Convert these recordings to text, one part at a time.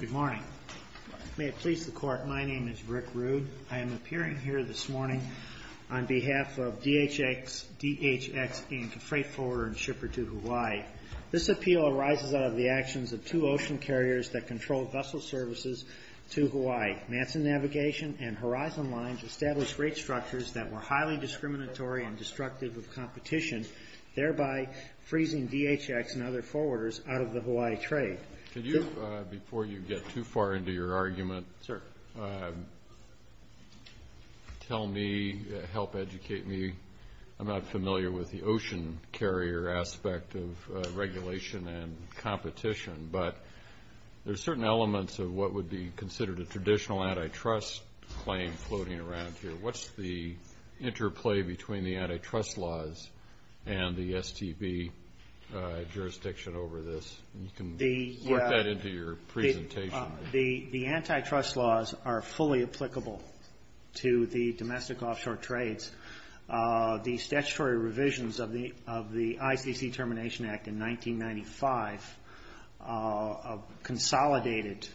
Good morning. May it please the Court, my name is Rick Rude. I am appearing here this morning on behalf of DHX, DHX, and the freight forwarder and shipper to Hawaii. This appeal arises out of the actions of two ocean carriers that control vessel services to Hawaii. Manson Navigation and Horizon Lines established rate structures that were highly discriminatory and destructive of competition, thereby freezing DHX and other forwarders out of the Hawaii trade. Could you, before you get too far into your argument, tell me, help educate me, I'm not familiar with the ocean carrier aspect of regulation and competition, but there's certain elements of what would be considered a traditional antitrust claim floating around here. What's the interplay between the antitrust laws and the STB jurisdiction over this? The antitrust laws are fully applicable to the domestic offshore trades. The statutory revisions of the ICC Termination Act in 1995 consolidated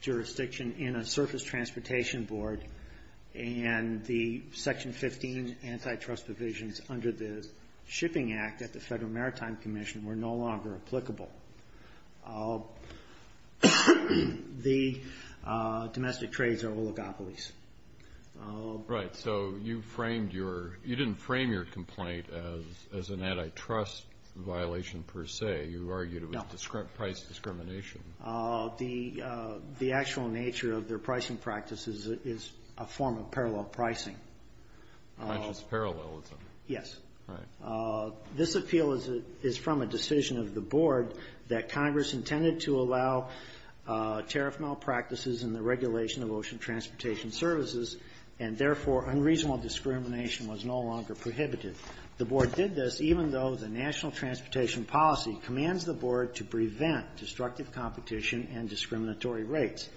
jurisdiction in a surface transportation board, and the Section 15 antitrust provisions under the Shipping Act at the Federal Maritime Commission were no longer applicable. The domestic trades are oligopolies. Right, so you framed your, you didn't frame your complaint as an antitrust violation per se, you argued it was price discrimination. The actual nature of their pricing practices is a form of parallel pricing. Conscious parallelism. Yes. Right. This appeal is from a decision of the board that Congress intended to allow tariff malpractices in the regulation of ocean transportation services, and therefore, unreasonable discrimination was no longer prohibited. The board did this even though the National Transportation Policy commands the board to prevent destructive competition and discriminatory rates.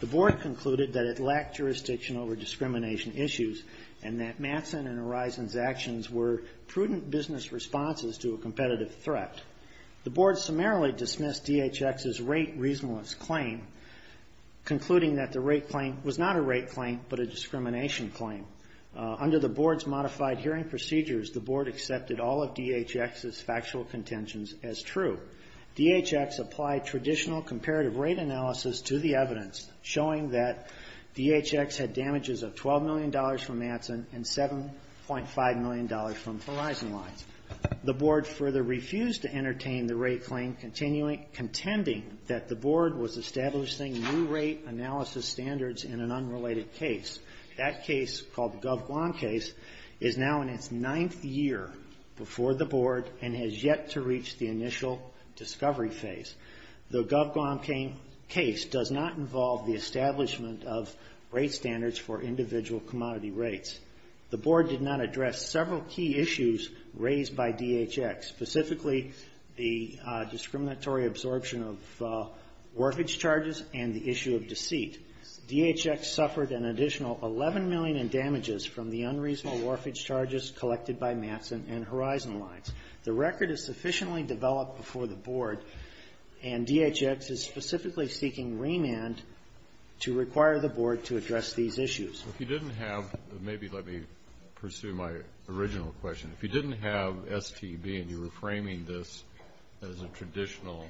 The board concluded that it lacked jurisdiction over discrimination issues, and that Mattson and Horizons' actions were prudent business responses to a competitive threat. The board summarily dismissed DHX's rate reasonableness claim, concluding that the rate claim was not a rate claim, but a discrimination claim. Under the board's modified hearing procedures, the board accepted all of DHX's factual contentions as true. DHX applied traditional comparative rate analysis to the evidence, showing that DHX had damages of $12 million from Mattson and $7.5 million from Horizons. The board further refused to entertain the rate claim, contending that the board was establishing new rate analysis standards in an unrelated case. That case, called the GovGuam case, is now in its ninth year before the board and has yet to reach the initial discovery phase. The GovGuam case does not involve the board. The board did not address several key issues raised by DHX, specifically the discriminatory absorption of warfage charges and the issue of deceit. DHX suffered an additional $11 million in damages from the unreasonable warfage charges collected by Mattson and Horizon lines. The record is sufficiently developed before the board, and DHX is specifically seeking remand to require the board to address these issues. So if you didn't have, maybe let me pursue my original question, if you didn't have STB and you were framing this as a traditional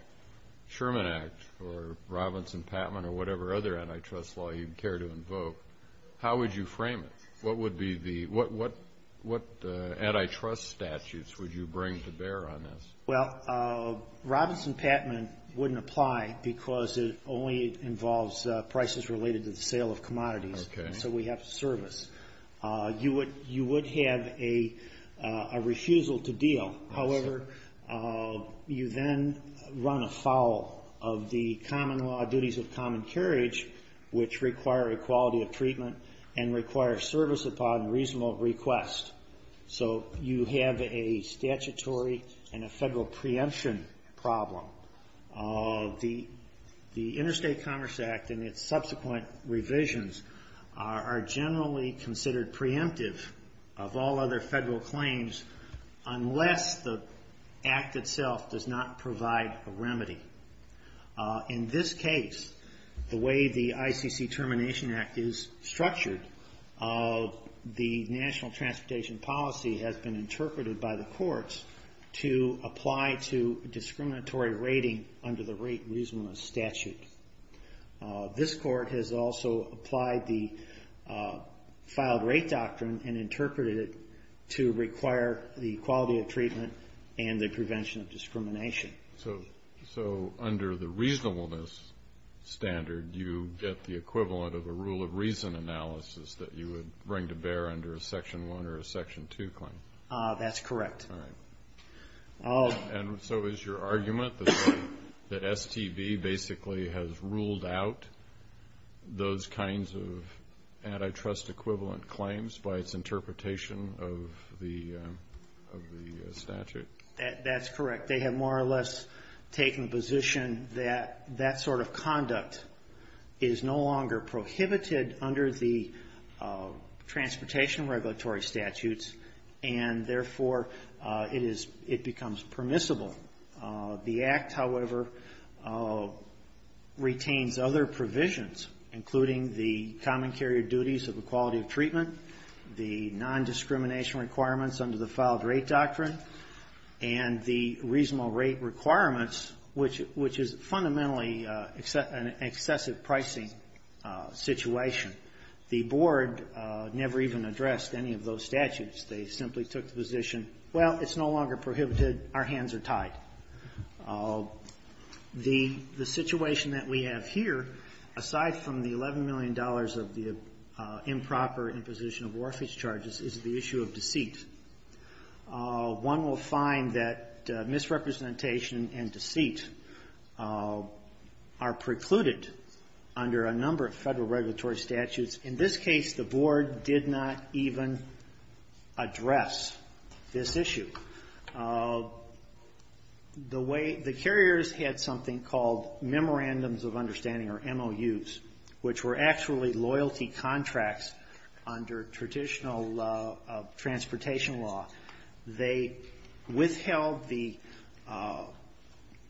Sherman Act or Robinson-Pattman or whatever other antitrust law you care to invoke, how would you frame it? What would be the, what antitrust statutes would you bring to bear on this? Well, Robinson-Pattman wouldn't apply because it only involves prices related to the sale of commodities, so we have service. You would have a refusal to deal. However, you then run afoul of the common law duties of common carriage, which require equality of treatment and require service upon reasonable request. So you have a statutory and a federal preemption problem. The Interstate Commerce Act and its subsequent revisions are generally considered preemptive of all other federal claims unless the act itself does not provide a remedy. In this case, the way the ICC Termination Act is structured, the national transportation policy has been interpreted by the courts to apply to discriminatory rating under the rate reasonableness statute. This court has also applied the filed rate doctrine and interpreted it to require the equality of treatment and the prevention of discrimination. So under the reasonableness standard, you get the equivalent of a rule of reason analysis that you would bring to bear under a Section 1 or a Section 2 claim? That's correct. And so is your argument that STB basically has ruled out those kinds of antitrust equivalent claims by its interpretation of the statute? That's correct. They have more or less taken the position that that sort of conduct is no longer prohibited under the transportation regulatory statutes, and therefore, it becomes permissible. The act, however, retains other provisions, including the common carrier duties of equality of treatment, the non-discrimination requirements under the filed rate doctrine, and the reasonable rate requirements, which is fundamentally an excessive pricing situation. The Board never even addressed any of those statutes. They simply took the position, well, it's no longer prohibited, our hands are tied. The situation that we have here, aside from the $11 million of the improper imposition of orifice charges, is the issue of deceit. One will find that misrepresentation and deceit are precluded under a number of federal regulatory statutes. In this case, the Board did not even address this issue. The carriers had something called memorandums of understanding or MOUs, which were actually loyalty contracts under traditional transportation law. They withheld the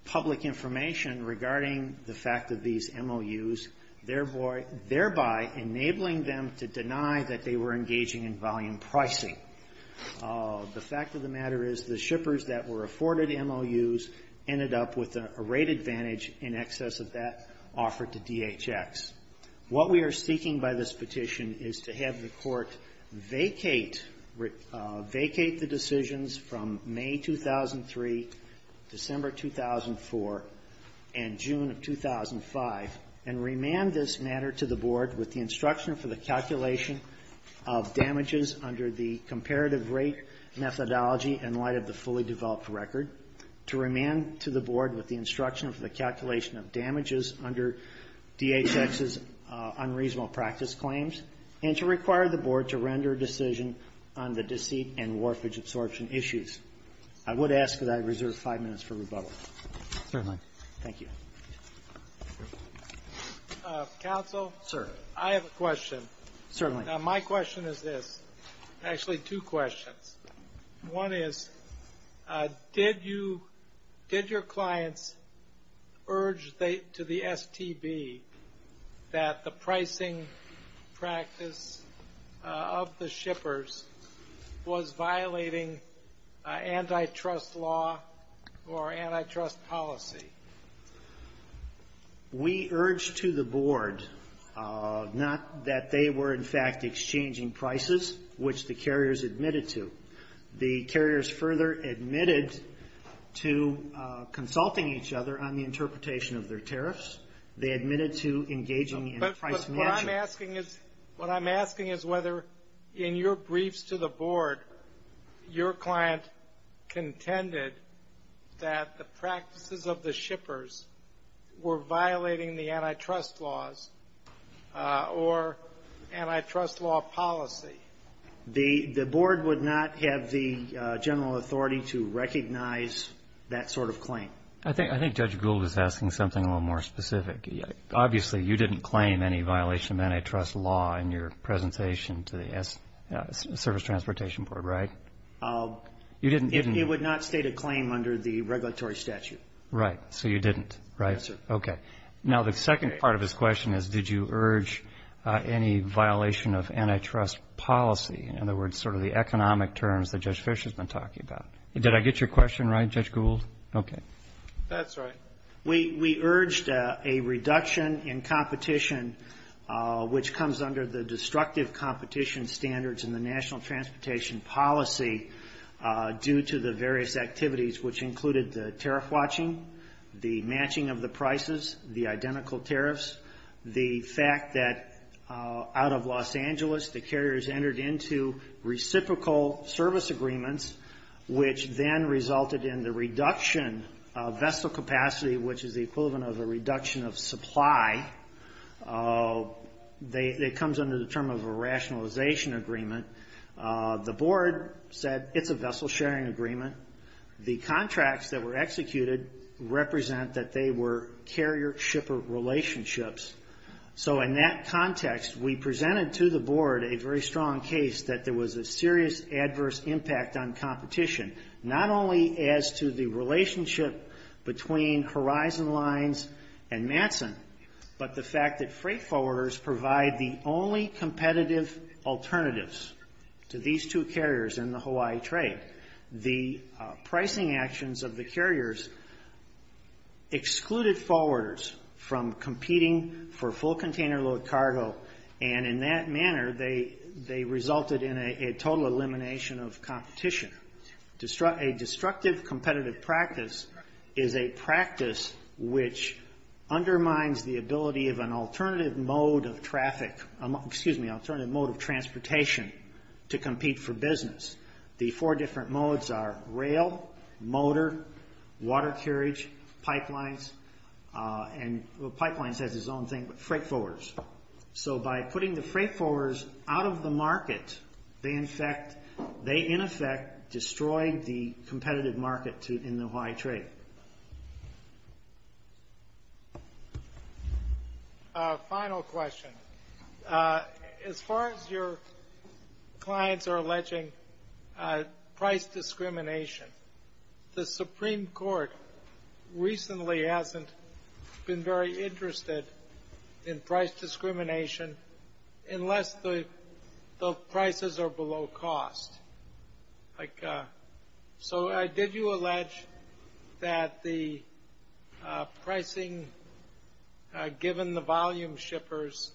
public information regarding the fact of these MOUs, thereby enabling them to deny that they were engaging in volume pricing. The fact of the matter is the shippers that were afforded MOUs ended up with a rate advantage in excess of that offered to DHX. What we are seeking by this petition is to have the Court vacate the decisions from May 2003, December 2004, and June of 2005, and remand this matter to the Board with the instruction for the calculation of damages under the comparative rate methodology in light of the fully developed record, to remand to the Board with the instruction for the calculation of damages under DHX's unreasonable practice claims, and to require the Board to render a decision on the deceit and morphage absorption issues. I would ask that I reserve five minutes for rebuttal. Certainly. Thank you. Counsel? Sir. I have a question. Certainly. Now, my question is this. Actually, two questions. One is, did your clients urge to the STB that they were, in fact, exchanging prices, which the carriers admitted to? The carriers further admitted to consulting each other on the interpretation of their tariffs. They admitted to engaging in price management. But what I'm asking is whether, in your briefs to the Board, your client contended that the practices of the shippers were violating the antitrust laws or antitrust law policy. The Board would not have the general authority to recognize that sort of claim. I think Judge Gould is asking something a little more specific. Obviously, you didn't claim any violation of antitrust law in your presentation to the Service Transportation Board, right? No. You didn't? It would not state a claim under the regulatory statute. Right. So you didn't, right? Yes, sir. Okay. Now, the second part of his question is, did you urge any violation of antitrust policy? In other words, sort of the economic terms that Judge Fish has been talking about. Did I get your question right, Judge Gould? Okay. That's right. We urged a reduction in competition, which comes under the destructive competition standards in the national transportation policy due to the various activities, which included the tariff watching, the matching of the prices, the identical tariffs, the fact that out of Los Angeles, the carriers entered into reciprocal service agreements, which then resulted in the reduction of vessel capacity, which is the equivalent of a reduction of supply. It comes under the term of a rationalization agreement. The Board said it's a vessel sharing agreement. The contracts that were executed represent that they were carrier-shipper relationships. So in that context, we presented to the Board a very strong case that there was a serious adverse impact on competition, not only as to the relationship between Horizon Lines and Matson, but the fact that freight forwarders provide the only competitive alternatives to these two carriers in the Hawaii trade. The pricing actions of the carriers excluded forwarders from competing for full container load cargo, and in that manner, they resulted in a total elimination of competition. A destructive competitive practice is a practice which is undermines the ability of an alternative mode of transportation to compete for business. The four different modes are rail, motor, water carriage, pipelines, and pipelines has its own thing, but freight forwarders. So by putting the freight forwarders out of the market, they in effect destroyed the competitive market in the Hawaii trade. A final question. As far as your clients are alleging price discrimination, the Supreme Court recently hasn't been very interested in price discrimination unless the prices are below cost. So did you allege that the pricing actions of the freight forwarders given the volume shippers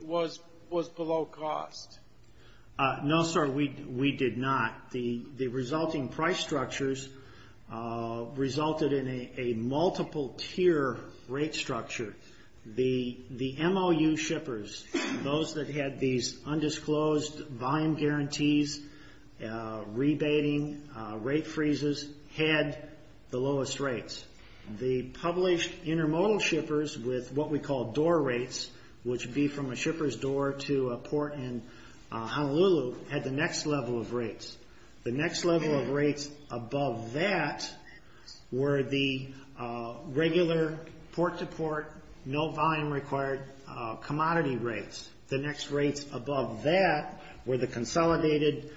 was below cost? No, sir, we did not. The resulting price structures resulted in a multiple tier rate structure. The MOU shippers, those that had these undisclosed volume guarantees, rebating, rate freezes, had the lowest rates. The published information intermodal shippers with what we call door rates, which would be from a shipper's door to a port in Honolulu, had the next level of rates. The next level of rates above that were the regular port to port, no volume required commodity rates. The next rates above that were the consolidated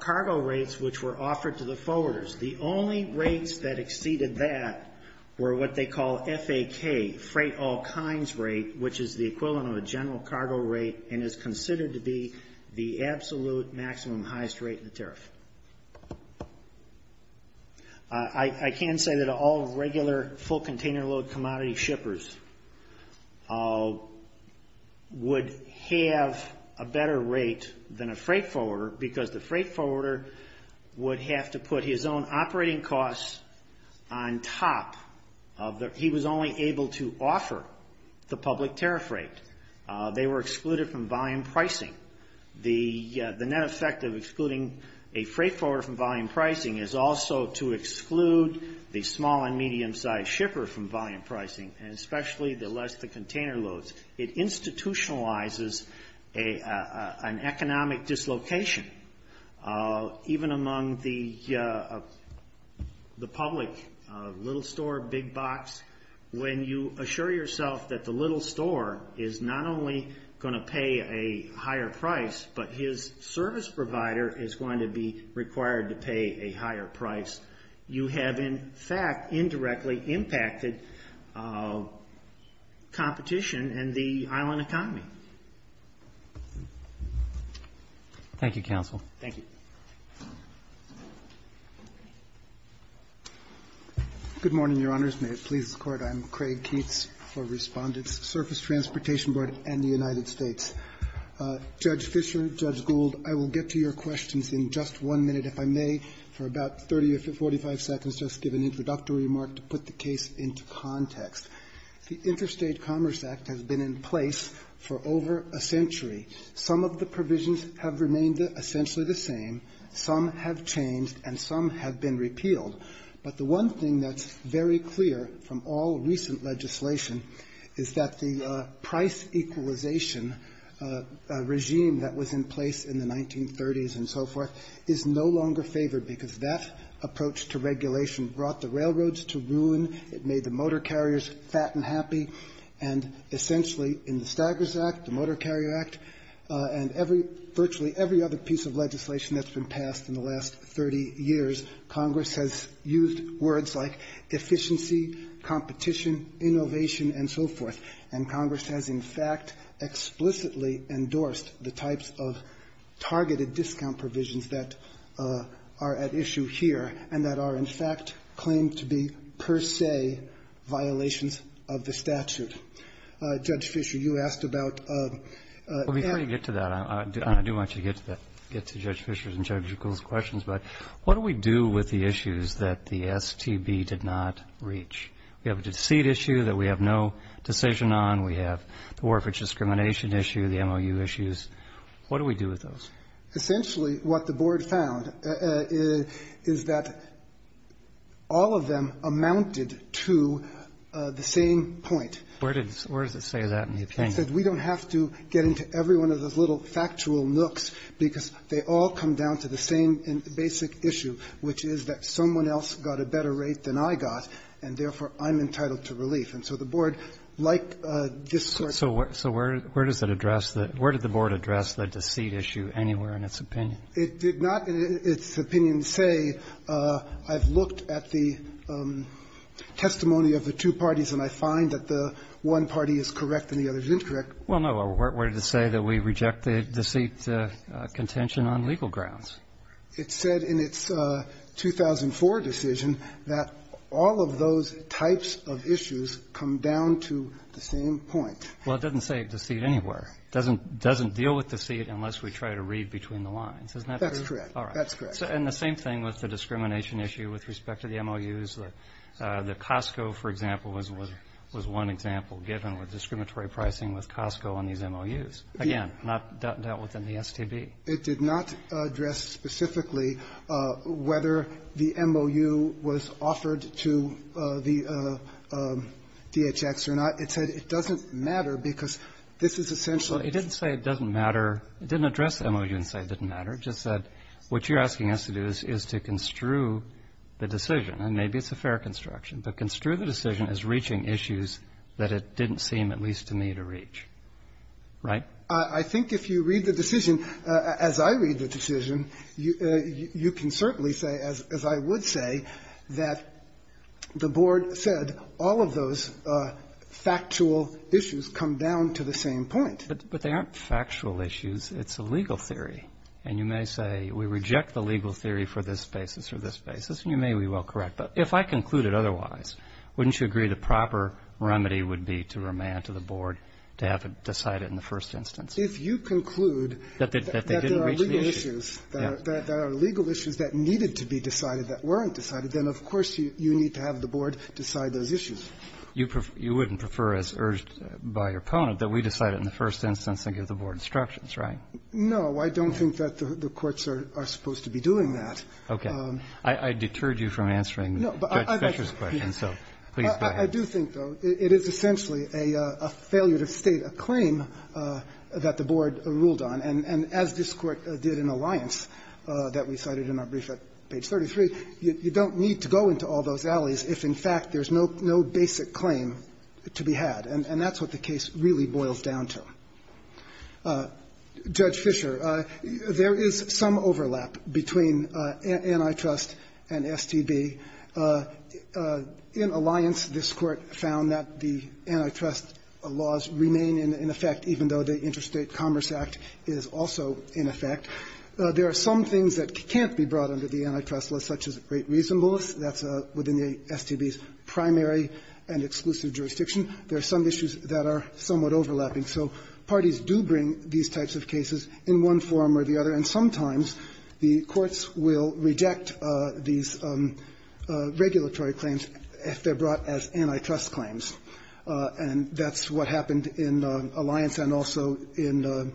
cargo rates which were offered to the forwarders. The only rates that exceeded that were what they call FAK, freight all kinds rate, which is the equivalent of a general cargo rate and is considered to be the absolute maximum highest rate in the tariff. I can say that all regular full container load commodity shippers would have a better rate than a freight forwarder because the freight forwarder would have to put his own operating costs on top. He was only able to offer the public tariff rate. They were excluded from volume pricing. The net effect of excluding a freight forwarder from volume pricing is also to exclude the small and medium sized shipper from volume pricing, and especially the less the container loads. It institutionalizes an economic dislocation, even among the shippers of the public, little store, big box. When you assure yourself that the little store is not only going to pay a higher price, but his service provider is going to be required to pay a higher price, you have in fact indirectly impacted competition and the island economy. Thank you, counsel. Thank you. Good morning, Your Honors. May it please the Court, I'm Craig Keats for Respondents, Surface Transportation Board and the United States. Judge Fischer, Judge Gould, I will get to your questions in just one minute, if I may, for about 30 or 45 seconds, just to give an introductory remark to put the case into context. The Interstate Commerce Act has been in place for over a century. Some of the provisions have remained essentially the same, some have changed, and some have been repealed. But the one thing that's very clear from all recent legislation is that the price equalization regime that was in place in the 1930s and so forth is no longer favored because that approach to regulation brought the railroads to ruin. It made the motor carriers fat and happy. And essentially in the Staggers Act, the Motor Carrier Act, and every ‑‑ virtually every other piece of legislation that's been passed in the last 30 years, Congress has used words like efficiency, competition, innovation and so forth. And Congress has in fact explicitly endorsed the types of targeted discount provisions that are at issue here and that are in fact claimed to be per se violations of the statute. Judge Fischer, you asked about ‑‑ Roberts. Well, before you get to that, I do want you to get to that, get to Judge Fischer and Judge Gould's questions, but what do we do with the issues that the STB did not reach? We have a deceit issue that we have no decision on. We have the warfare discrimination issue, the MOU issues. What do we do with those? Essentially what the board found is that all of them amounted to the same point. Where does it say that in the opinion? It said we don't have to get into every one of those little factual nooks because they all come down to the same basic issue, which is that someone else got a better rate than I got, and therefore I'm entitled to relief. And so the board, like this So where does it address that? Where did the board address the deceit issue anywhere in its opinion? It did not in its opinion say I've looked at the testimony of the two parties and I find that the one party is correct and the other is incorrect. Well, no. Where did it say that we reject the deceit contention on legal grounds? It said in its 2004 decision that all of those types of issues come down to the same point. Well, it doesn't say deceit anywhere. It doesn't deal with deceit unless we try to read between the lines. Isn't that true? That's correct. All right. That's correct. And the same thing with the discrimination issue with respect to the MOUs. The Costco, for example, was one example given with discriminatory pricing with Costco on these MOUs. Again, not dealt with in the STB. It did not address specifically whether the MOU was offered to the DHX or not. It said it doesn't matter because this is essential. Well, it didn't say it doesn't matter. It didn't address the MOU and say it didn't matter. It just said what you're asking us to do is to construe the decision. And maybe it's a fair construction. But construe the decision as reaching issues that it didn't seem at least to me to reach. Right? I think if you read the decision, as I read the decision, you can certainly say, as I would say, that the board said all of those factual issues come down to the same point. But they aren't factual issues. It's a legal theory. And you may say we reject the legal theory for this basis or this basis. And you may well be correct. But if I concluded otherwise, wouldn't you agree the proper remedy would be to remand to the board to have it decided in the first instance? If you conclude that there are legal issues. There are legal issues that needed to be decided that weren't decided, then, of course, you need to have the board decide those issues. You wouldn't prefer, as urged by your opponent, that we decide it in the first instance and give the board instructions, right? No. I don't think that the courts are supposed to be doing that. Okay. I deterred you from answering Judge Fischer's question, so please go ahead. I do think, though, it is essentially a failure to state a claim that the board ruled on, and as this Court did in Alliance that we cited in our brief at page 33, you don't need to go into all those alleys if, in fact, there's no basic claim to be had. And that's what the case really boils down to. Judge Fischer, there is some overlap between antitrust and STB. In Alliance, this Court found that the antitrust laws remain in effect even though the Interstate Commerce Act is also in effect. There are some things that can't be brought under the antitrust law, such as great reasonableness. That's within the STB's primary and exclusive jurisdiction. There are some issues that are somewhat overlapping. So parties do bring these types of cases in one form or the other. And sometimes the courts will reject these regulatory claims if they're brought as antitrust claims. And that's what happened in Alliance and also in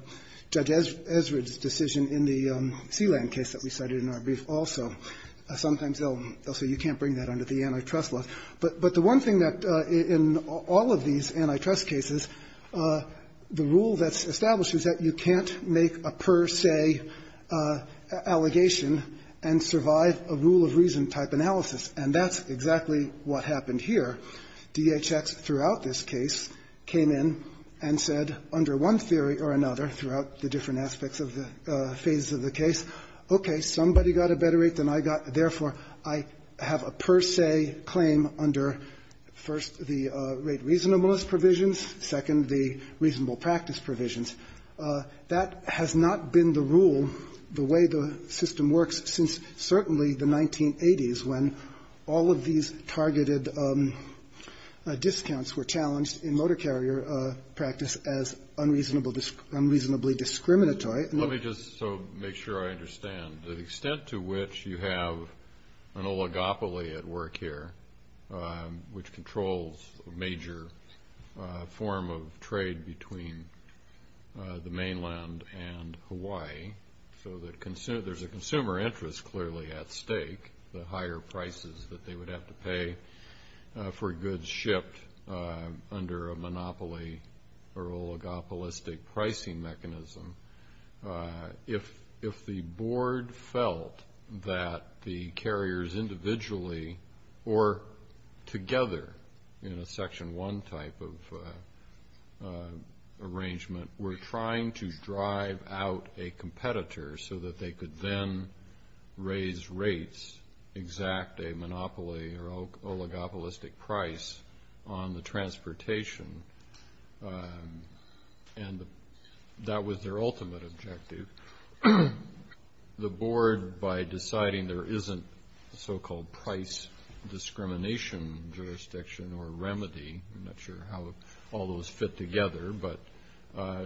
Judge Ezrid's decision in the Sealand case that we cited in our brief also. Sometimes they'll say you can't bring that under the antitrust law. But the one thing that in all of these antitrust cases, the rule that's established is that you can't make a per se allegation and survive a rule of reason type analysis. And that's exactly what happened here. DHX throughout this case came in and said under one theory or another throughout the different aspects of the phases of the case, okay, somebody got a better rate than I got, therefore, I have a per se claim under, first, the rate reasonableness provisions, second, the reasonable practice provisions. That has not been the rule, the way the system works, since certainly the 1980s when all of these targeted discounts were challenged in motor carrier practice as unreasonably discriminatory. Let me just make sure I understand. The extent to which you have an oligopoly at work here, which controls a major form of trade between the mainland and Hawaii, so that there's a consumer interest clearly at stake, the higher prices that they would have to pay for goods shipped under a monopoly or oligopolistic pricing mechanism, if the board felt that the carriers individually or together in a section one type of arrangement were trying to drive out a competitor so that they could then raise rates, exact a monopoly or oligopolistic price on the transportation. And that was their ultimate objective. The board, by deciding there isn't a so-called price discrimination jurisdiction or remedy, I'm not sure how all those fit together, but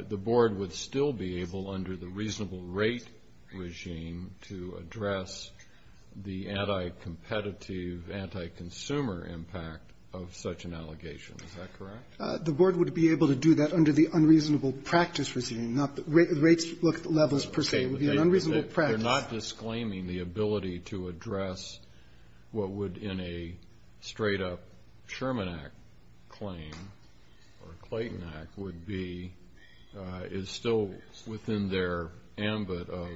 the board would still be able under the reasonable rate regime to address the anti-competitive, anti-consumer impact of such an allegation. Is that correct? The board would be able to do that under the unreasonable practice regime, not the rates levels per se. It would be an unreasonable practice. They're not disclaiming the ability to address what would in a straight-up Sherman Act claim or Clayton Act would be is still within their ambit of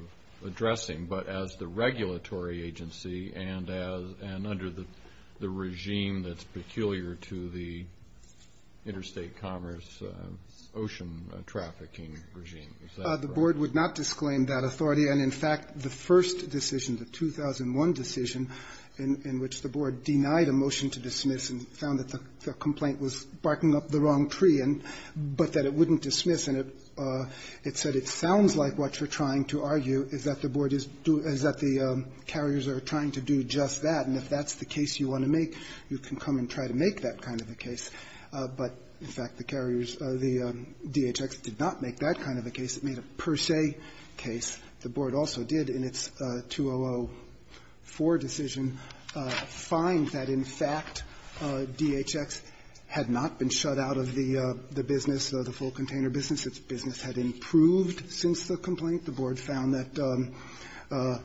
addressing, but as the regulatory agency and under the regime that's peculiar to the interstate commerce Is that correct? Our board would not disclaim that authority. And, in fact, the first decision, the 2001 decision in which the board denied a motion to dismiss and found that the complaint was barking up the wrong tree, but that it wouldn't dismiss. And it said it sounds like what you're trying to argue is that the board is doing the carriers are trying to do just that, and if that's the case you want to make, you can come and try to make that kind of a case. But, in fact, the carriers, the DHX did not make that kind of a case. It made a per se case. The board also did in its 2004 decision find that, in fact, DHX had not been shut out of the business, the full container business. Its business had improved since the complaint. The board found that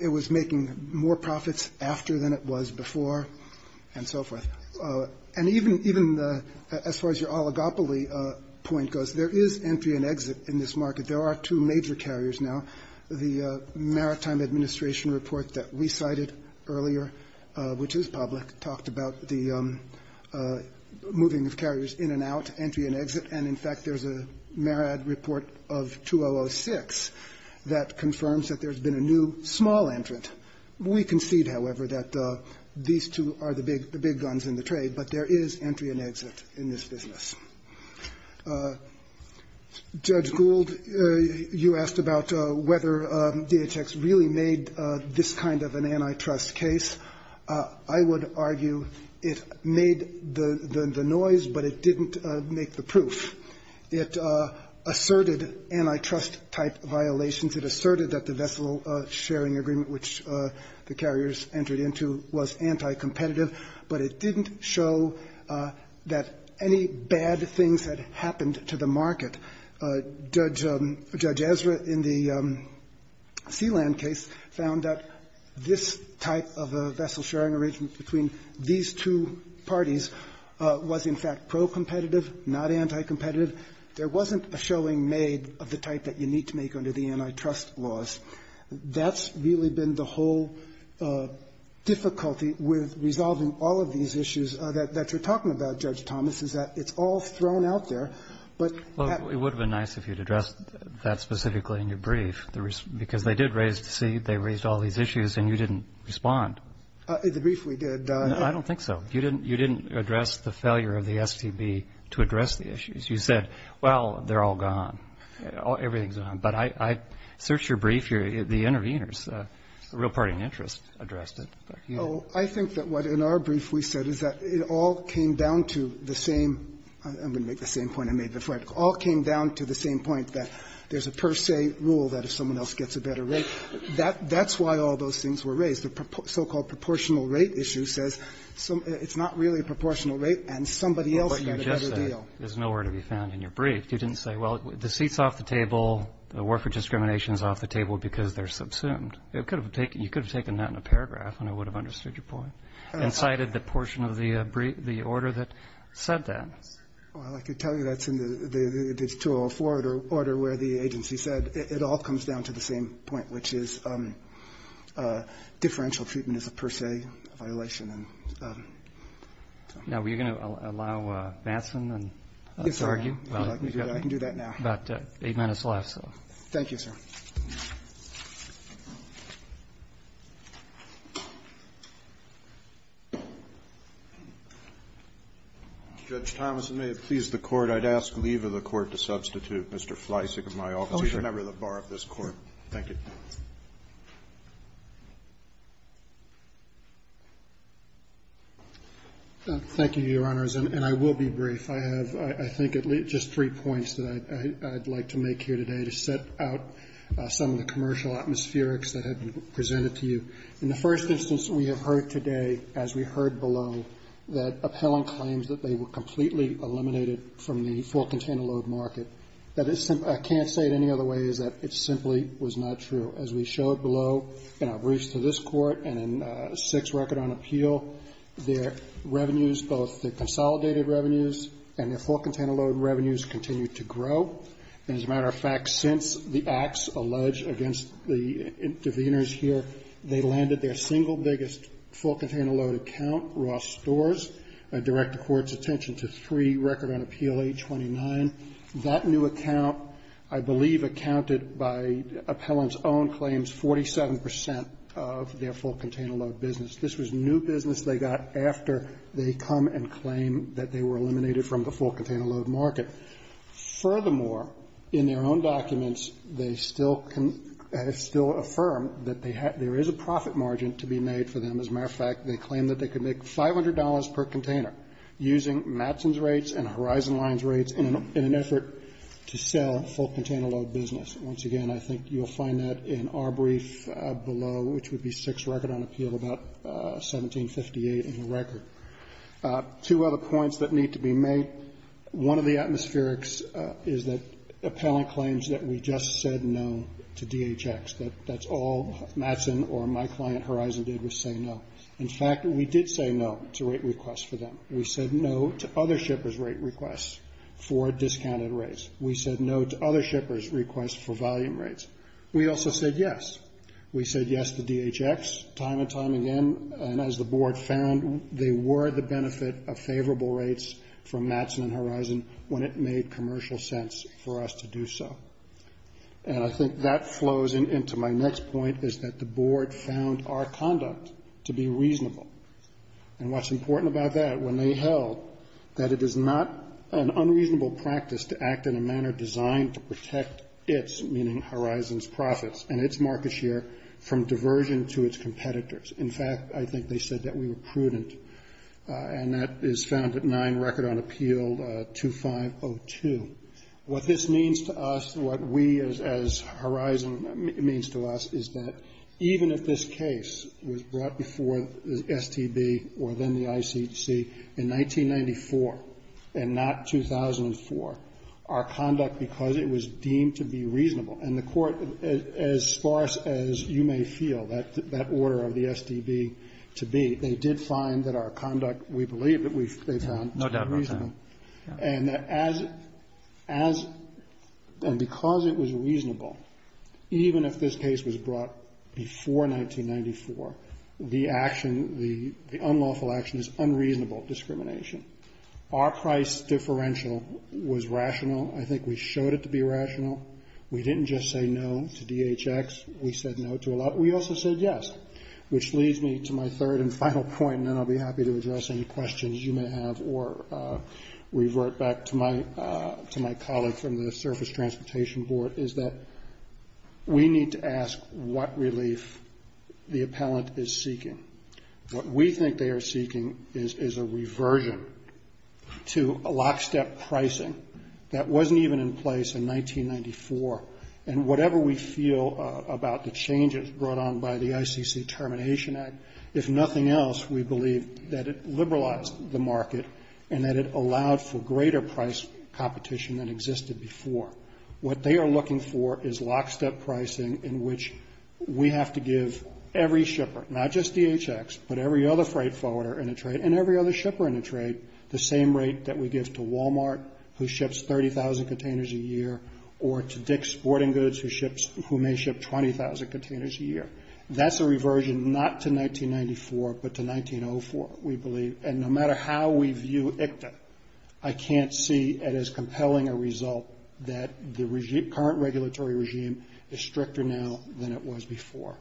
it was making more profits after than it was before and so forth. And even as far as your oligopoly point goes, there is entry and exit in this market. There are two major carriers now. The Maritime Administration report that we cited earlier, which is public, talked about the moving of carriers in and out, entry and exit. And, in fact, there's a Marad report of 2006 that confirms that there's been a new small entrant. We concede, however, that these two are the big guns in the trade, but there is entry and exit in this business. Judge Gould, you asked about whether DHX really made this kind of an antitrust case. I would argue it made the noise, but it didn't make the proof. It asserted antitrust-type violations. It asserted that the vessel-sharing agreement which the carriers entered into was anticompetitive, but it didn't show that any bad things had happened to the market. Judge Ezra, in the Sealand case, found that this type of a vessel-sharing arrangement between these two parties was, in fact, pro-competitive, not anticompetitive. There wasn't a showing made of the type that you need to make under the antitrust laws. That's really been the whole difficulty with resolving all of these issues that you're talking about, Judge Thomas, is that it's all thrown out there. But at the end of the day, there's no proof. Well, it would have been nice if you'd addressed that specifically in your brief, because they did raise the seed, they raised all these issues, and you didn't respond. In the brief we did. I don't think so. You didn't address the failure of the STB to address the issues. You said, well, they're all gone. Everything's gone. But I searched your brief. The interveners, the real party in interest, addressed it. Well, I think that what in our brief we said is that it all came down to the same – I'm going to make the same point I made before. It all came down to the same point, that there's a per se rule that if someone else gets a better rate. That's why all those things were raised. The so-called proportional rate issue says it's not really a proportional rate and somebody else got a better deal. Well, what you just said is nowhere to be found in your brief. You didn't say, well, the seat's off the table, the warfare discrimination is off the table because they're subsumed. You could have taken that in a paragraph and I would have understood your point and cited the portion of the order that said that. Well, I can tell you that's in the 204 order where the agency said it all comes down to the same point, which is differential treatment is a per se violation. Now, were you going to allow Batson to argue? Yes, sir. I can do that now. You've got about eight minutes left. Thank you, sir. Judge Thomas, it may have pleased the Court. I'd ask leave of the Court to substitute Mr. Fleisig of my office. Mr. Fleisig is a member of the bar of this Court. Thank you. Thank you, Your Honors. And I will be brief. I have, I think, at least just three points that I'd like to make here today to set out some of the commercial atmospherics that have been presented to you. In the first instance, we have heard today, as we heard below, that appellant claims that they were completely eliminated from the full container load market. That is, I can't say it any other way, is that it simply was not true. As we showed below, and I've reached to this Court, and in six record on appeal, their revenues, both the consolidated revenues and their full container load revenues continue to grow. And as a matter of fact, since the acts alleged against the interveners here, they landed their single biggest full container load account, Ross Stores, direct the Court's attention to three record on appeal, 829. That new account, I believe, accounted, by appellant's own claims, 47 percent of their full container load business. This was new business they got after they come and claim that they were eliminated from the full container load market. Furthermore, in their own documents, they still have still affirmed that there is a profit margin to be made for them. As a matter of fact, they claim that they could make $500 per container using Mattson's rates in an effort to sell full container load business. Once again, I think you'll find that in our brief below, which would be six record on appeal, about 1758 in the record. Two other points that need to be made. One of the atmospherics is that appellant claims that we just said no to DHX, that that's all Mattson or my client, Horizon, did was say no. In fact, we did say no to rate requests for them. We said no to other shippers' rate requests for discounted rates. We said no to other shippers' requests for volume rates. We also said yes. We said yes to DHX time and time again. And as the board found, they were the benefit of favorable rates from Mattson and Horizon when it made commercial sense for us to do so. And I think that flows into my next point is that the board found our conduct to be reasonable. And what's important about that, when they held that it is not an unreasonable practice to act in a manner designed to protect its, meaning Horizon's, profits and its market share from diversion to its competitors. In fact, I think they said that we were prudent. And that is found at nine record on appeal, 2502. What this means to us, what we as Horizon means to us, is that even if this case was brought before the STB or then the ICHC in 1994 and not 2004, our conduct because it was deemed to be reasonable, and the court, as sparse as you may feel that order of the STB to be, they did find that our conduct, we believe that they found to be reasonable. And as, and because it was reasonable, even if this case was brought before 1994, the action, the unlawful action is unreasonable discrimination. Our price differential was rational. I think we showed it to be rational. We didn't just say no to DHX. We said no to a lot. We also said yes. Which leads me to my third and final point, and then I'll be happy to address any questions you may have or revert back to my colleague from the Surface Transportation Board, is that we need to ask what relief the appellant is seeking. What we think they are seeking is a reversion to a lockstep pricing that wasn't even in place in 1994, and whatever we feel about the changes brought on by the ICC Termination Act, if nothing else, we believe that it liberalized the market and that it allowed for greater price competition than existed before. What they are looking for is lockstep pricing in which we have to give every shipper, not just DHX, but every other freight forwarder in a trade and every other shipper in a trade the same rate that we give to Walmart, who ships 30,000 containers a year, or to Dick's Sporting Goods, who may ship 20,000 containers a year. That's a reversion not to 1994, but to 1904, we believe. And no matter how we view ICTA, I can't see it as compelling a result that the current regulatory regime is stricter now than it was before.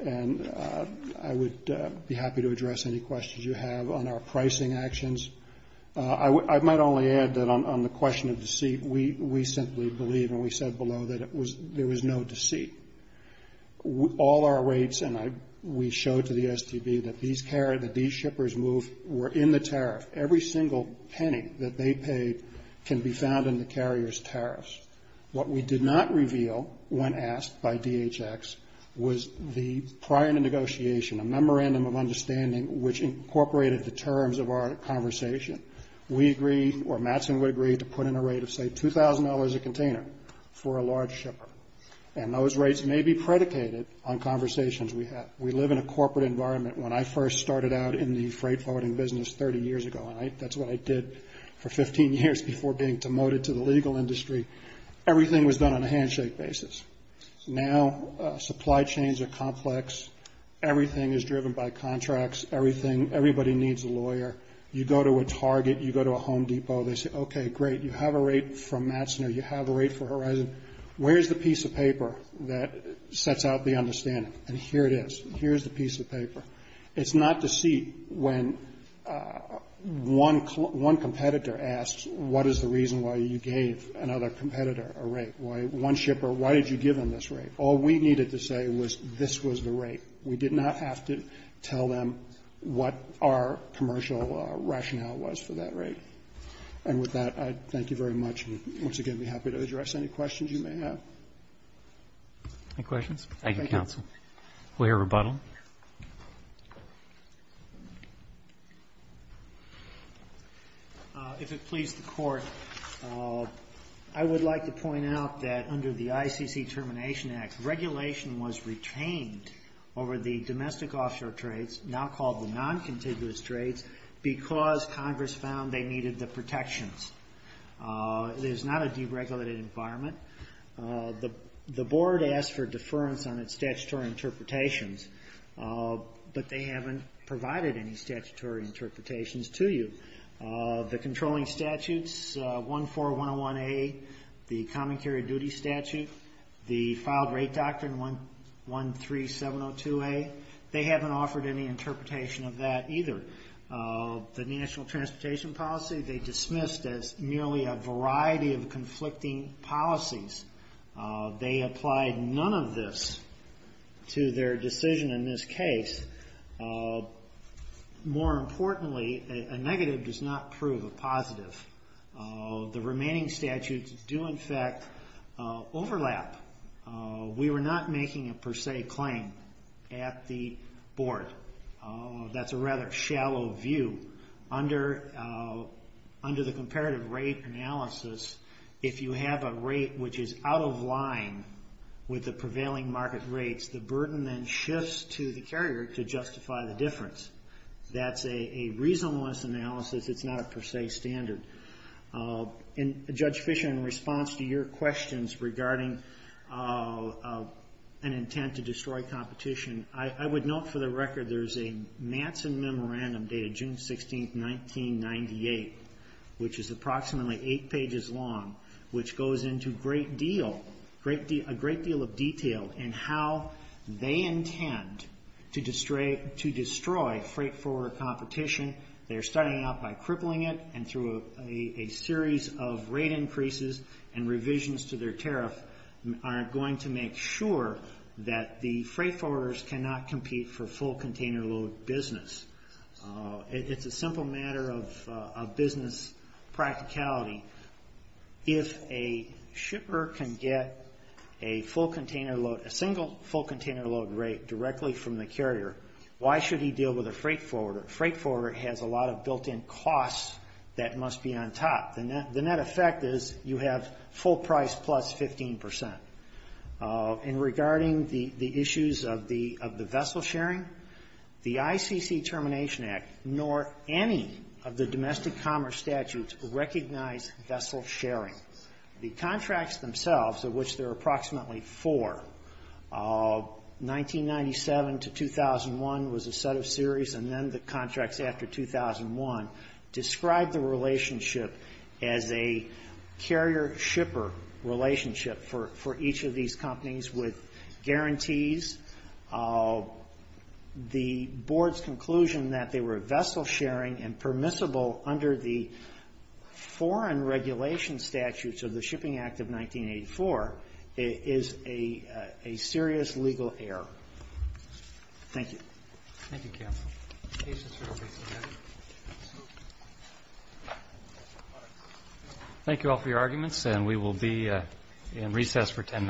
And I would be happy to address any questions you have on our pricing actions. I might only add that on the question of deceit, we simply believe, and we said below, that there was no deceit. All our rates, and we showed to the STB that these shippers were in the tariff. Every single penny that they paid can be found in the carrier's tariffs. What we did not reveal, when asked by DHX, was the prior to negotiation, a memorandum of understanding which incorporated the terms of our conversation. We agreed, or Matson would agree, to put in a rate of, say, $2,000 a container for a large shipper. And those rates may be predicated on conversations we have. We live in a corporate environment. When I first started out in the freight forwarding business 30 years ago, and that's what I did for 15 years before being demoted to the legal industry, everything was done on a handshake basis. Now, supply chains are complex. Everything is driven by contracts. Everything, everybody needs a lawyer. You go to a Target, you go to a Home Depot, they say, okay, great, you have a Where's the piece of paper that sets out the understanding? And here it is. Here's the piece of paper. It's not to see when one competitor asks what is the reason why you gave another competitor a rate. Why one shipper, why did you give them this rate? All we needed to say was this was the rate. We did not have to tell them what our commercial rationale was for that rate. And with that, I thank you very much. Once again, I'd be happy to address any questions you may have. Any questions? Thank you, counsel. We'll hear rebuttal. If it pleases the Court, I would like to point out that under the ICC Termination Act, regulation was retained over the domestic offshore trades, now called the non-contiguous trades, because Congress found they needed the protections. It is not a deregulated environment. The Board asked for deference on its statutory interpretations, but they haven't provided any statutory interpretations to you. The controlling statutes, 14101A, the Common Carrier Duty Statute, the Filed Rate Doctrine 13702A, they haven't offered any interpretation of that either. The National Transportation Policy, they dismissed as merely a variety of conflicting policies. They applied none of this to their decision in this case. More importantly, a negative does not prove a positive. The remaining statutes do, in fact, overlap. We were not making a per se claim at the Board. That's a rather shallow view. Under the comparative rate analysis, if you have a rate which is out of line with the prevailing market rates, the burden then shifts to the carrier to justify the difference. That's a reasonableness analysis. It's not a per se standard. Judge Fischer, in response to your questions regarding an intent to destroy competition, I would note for the record there's a Matson Memorandum dated June 16th, 1998, which is approximately eight pages long, which goes into a great deal of detail in how they intend to destroy freight forwarder competition. They're starting out by crippling it, and through a series of rate increases and revisions to their tariff are going to make sure that the freight forwarders cannot compete for full container load business. It's a simple matter of business practicality. If a shipper can get a single full container load rate directly from the carrier, why should he deal with a freight forwarder? A freight forwarder has a lot of built-in costs that must be on top. The net effect is you have full price plus 15%. In regarding the issues of the vessel sharing, the ICC Termination Act nor any of the domestic commerce statutes recognize vessel sharing. The contracts themselves, of which there are approximately four, 1997 to 2001 was a set of series, and then the contracts after 2001 describe the relationship as a carrier-shipper relationship for each of these companies with guarantees. The Board's conclusion that they were vessel sharing and permissible under the foreign regulation statutes of the Shipping Act of 1984 is a serious legal error. Thank you. Thank you, counsel. Thank you all for your arguments, and we will be in recess for 10 minutes.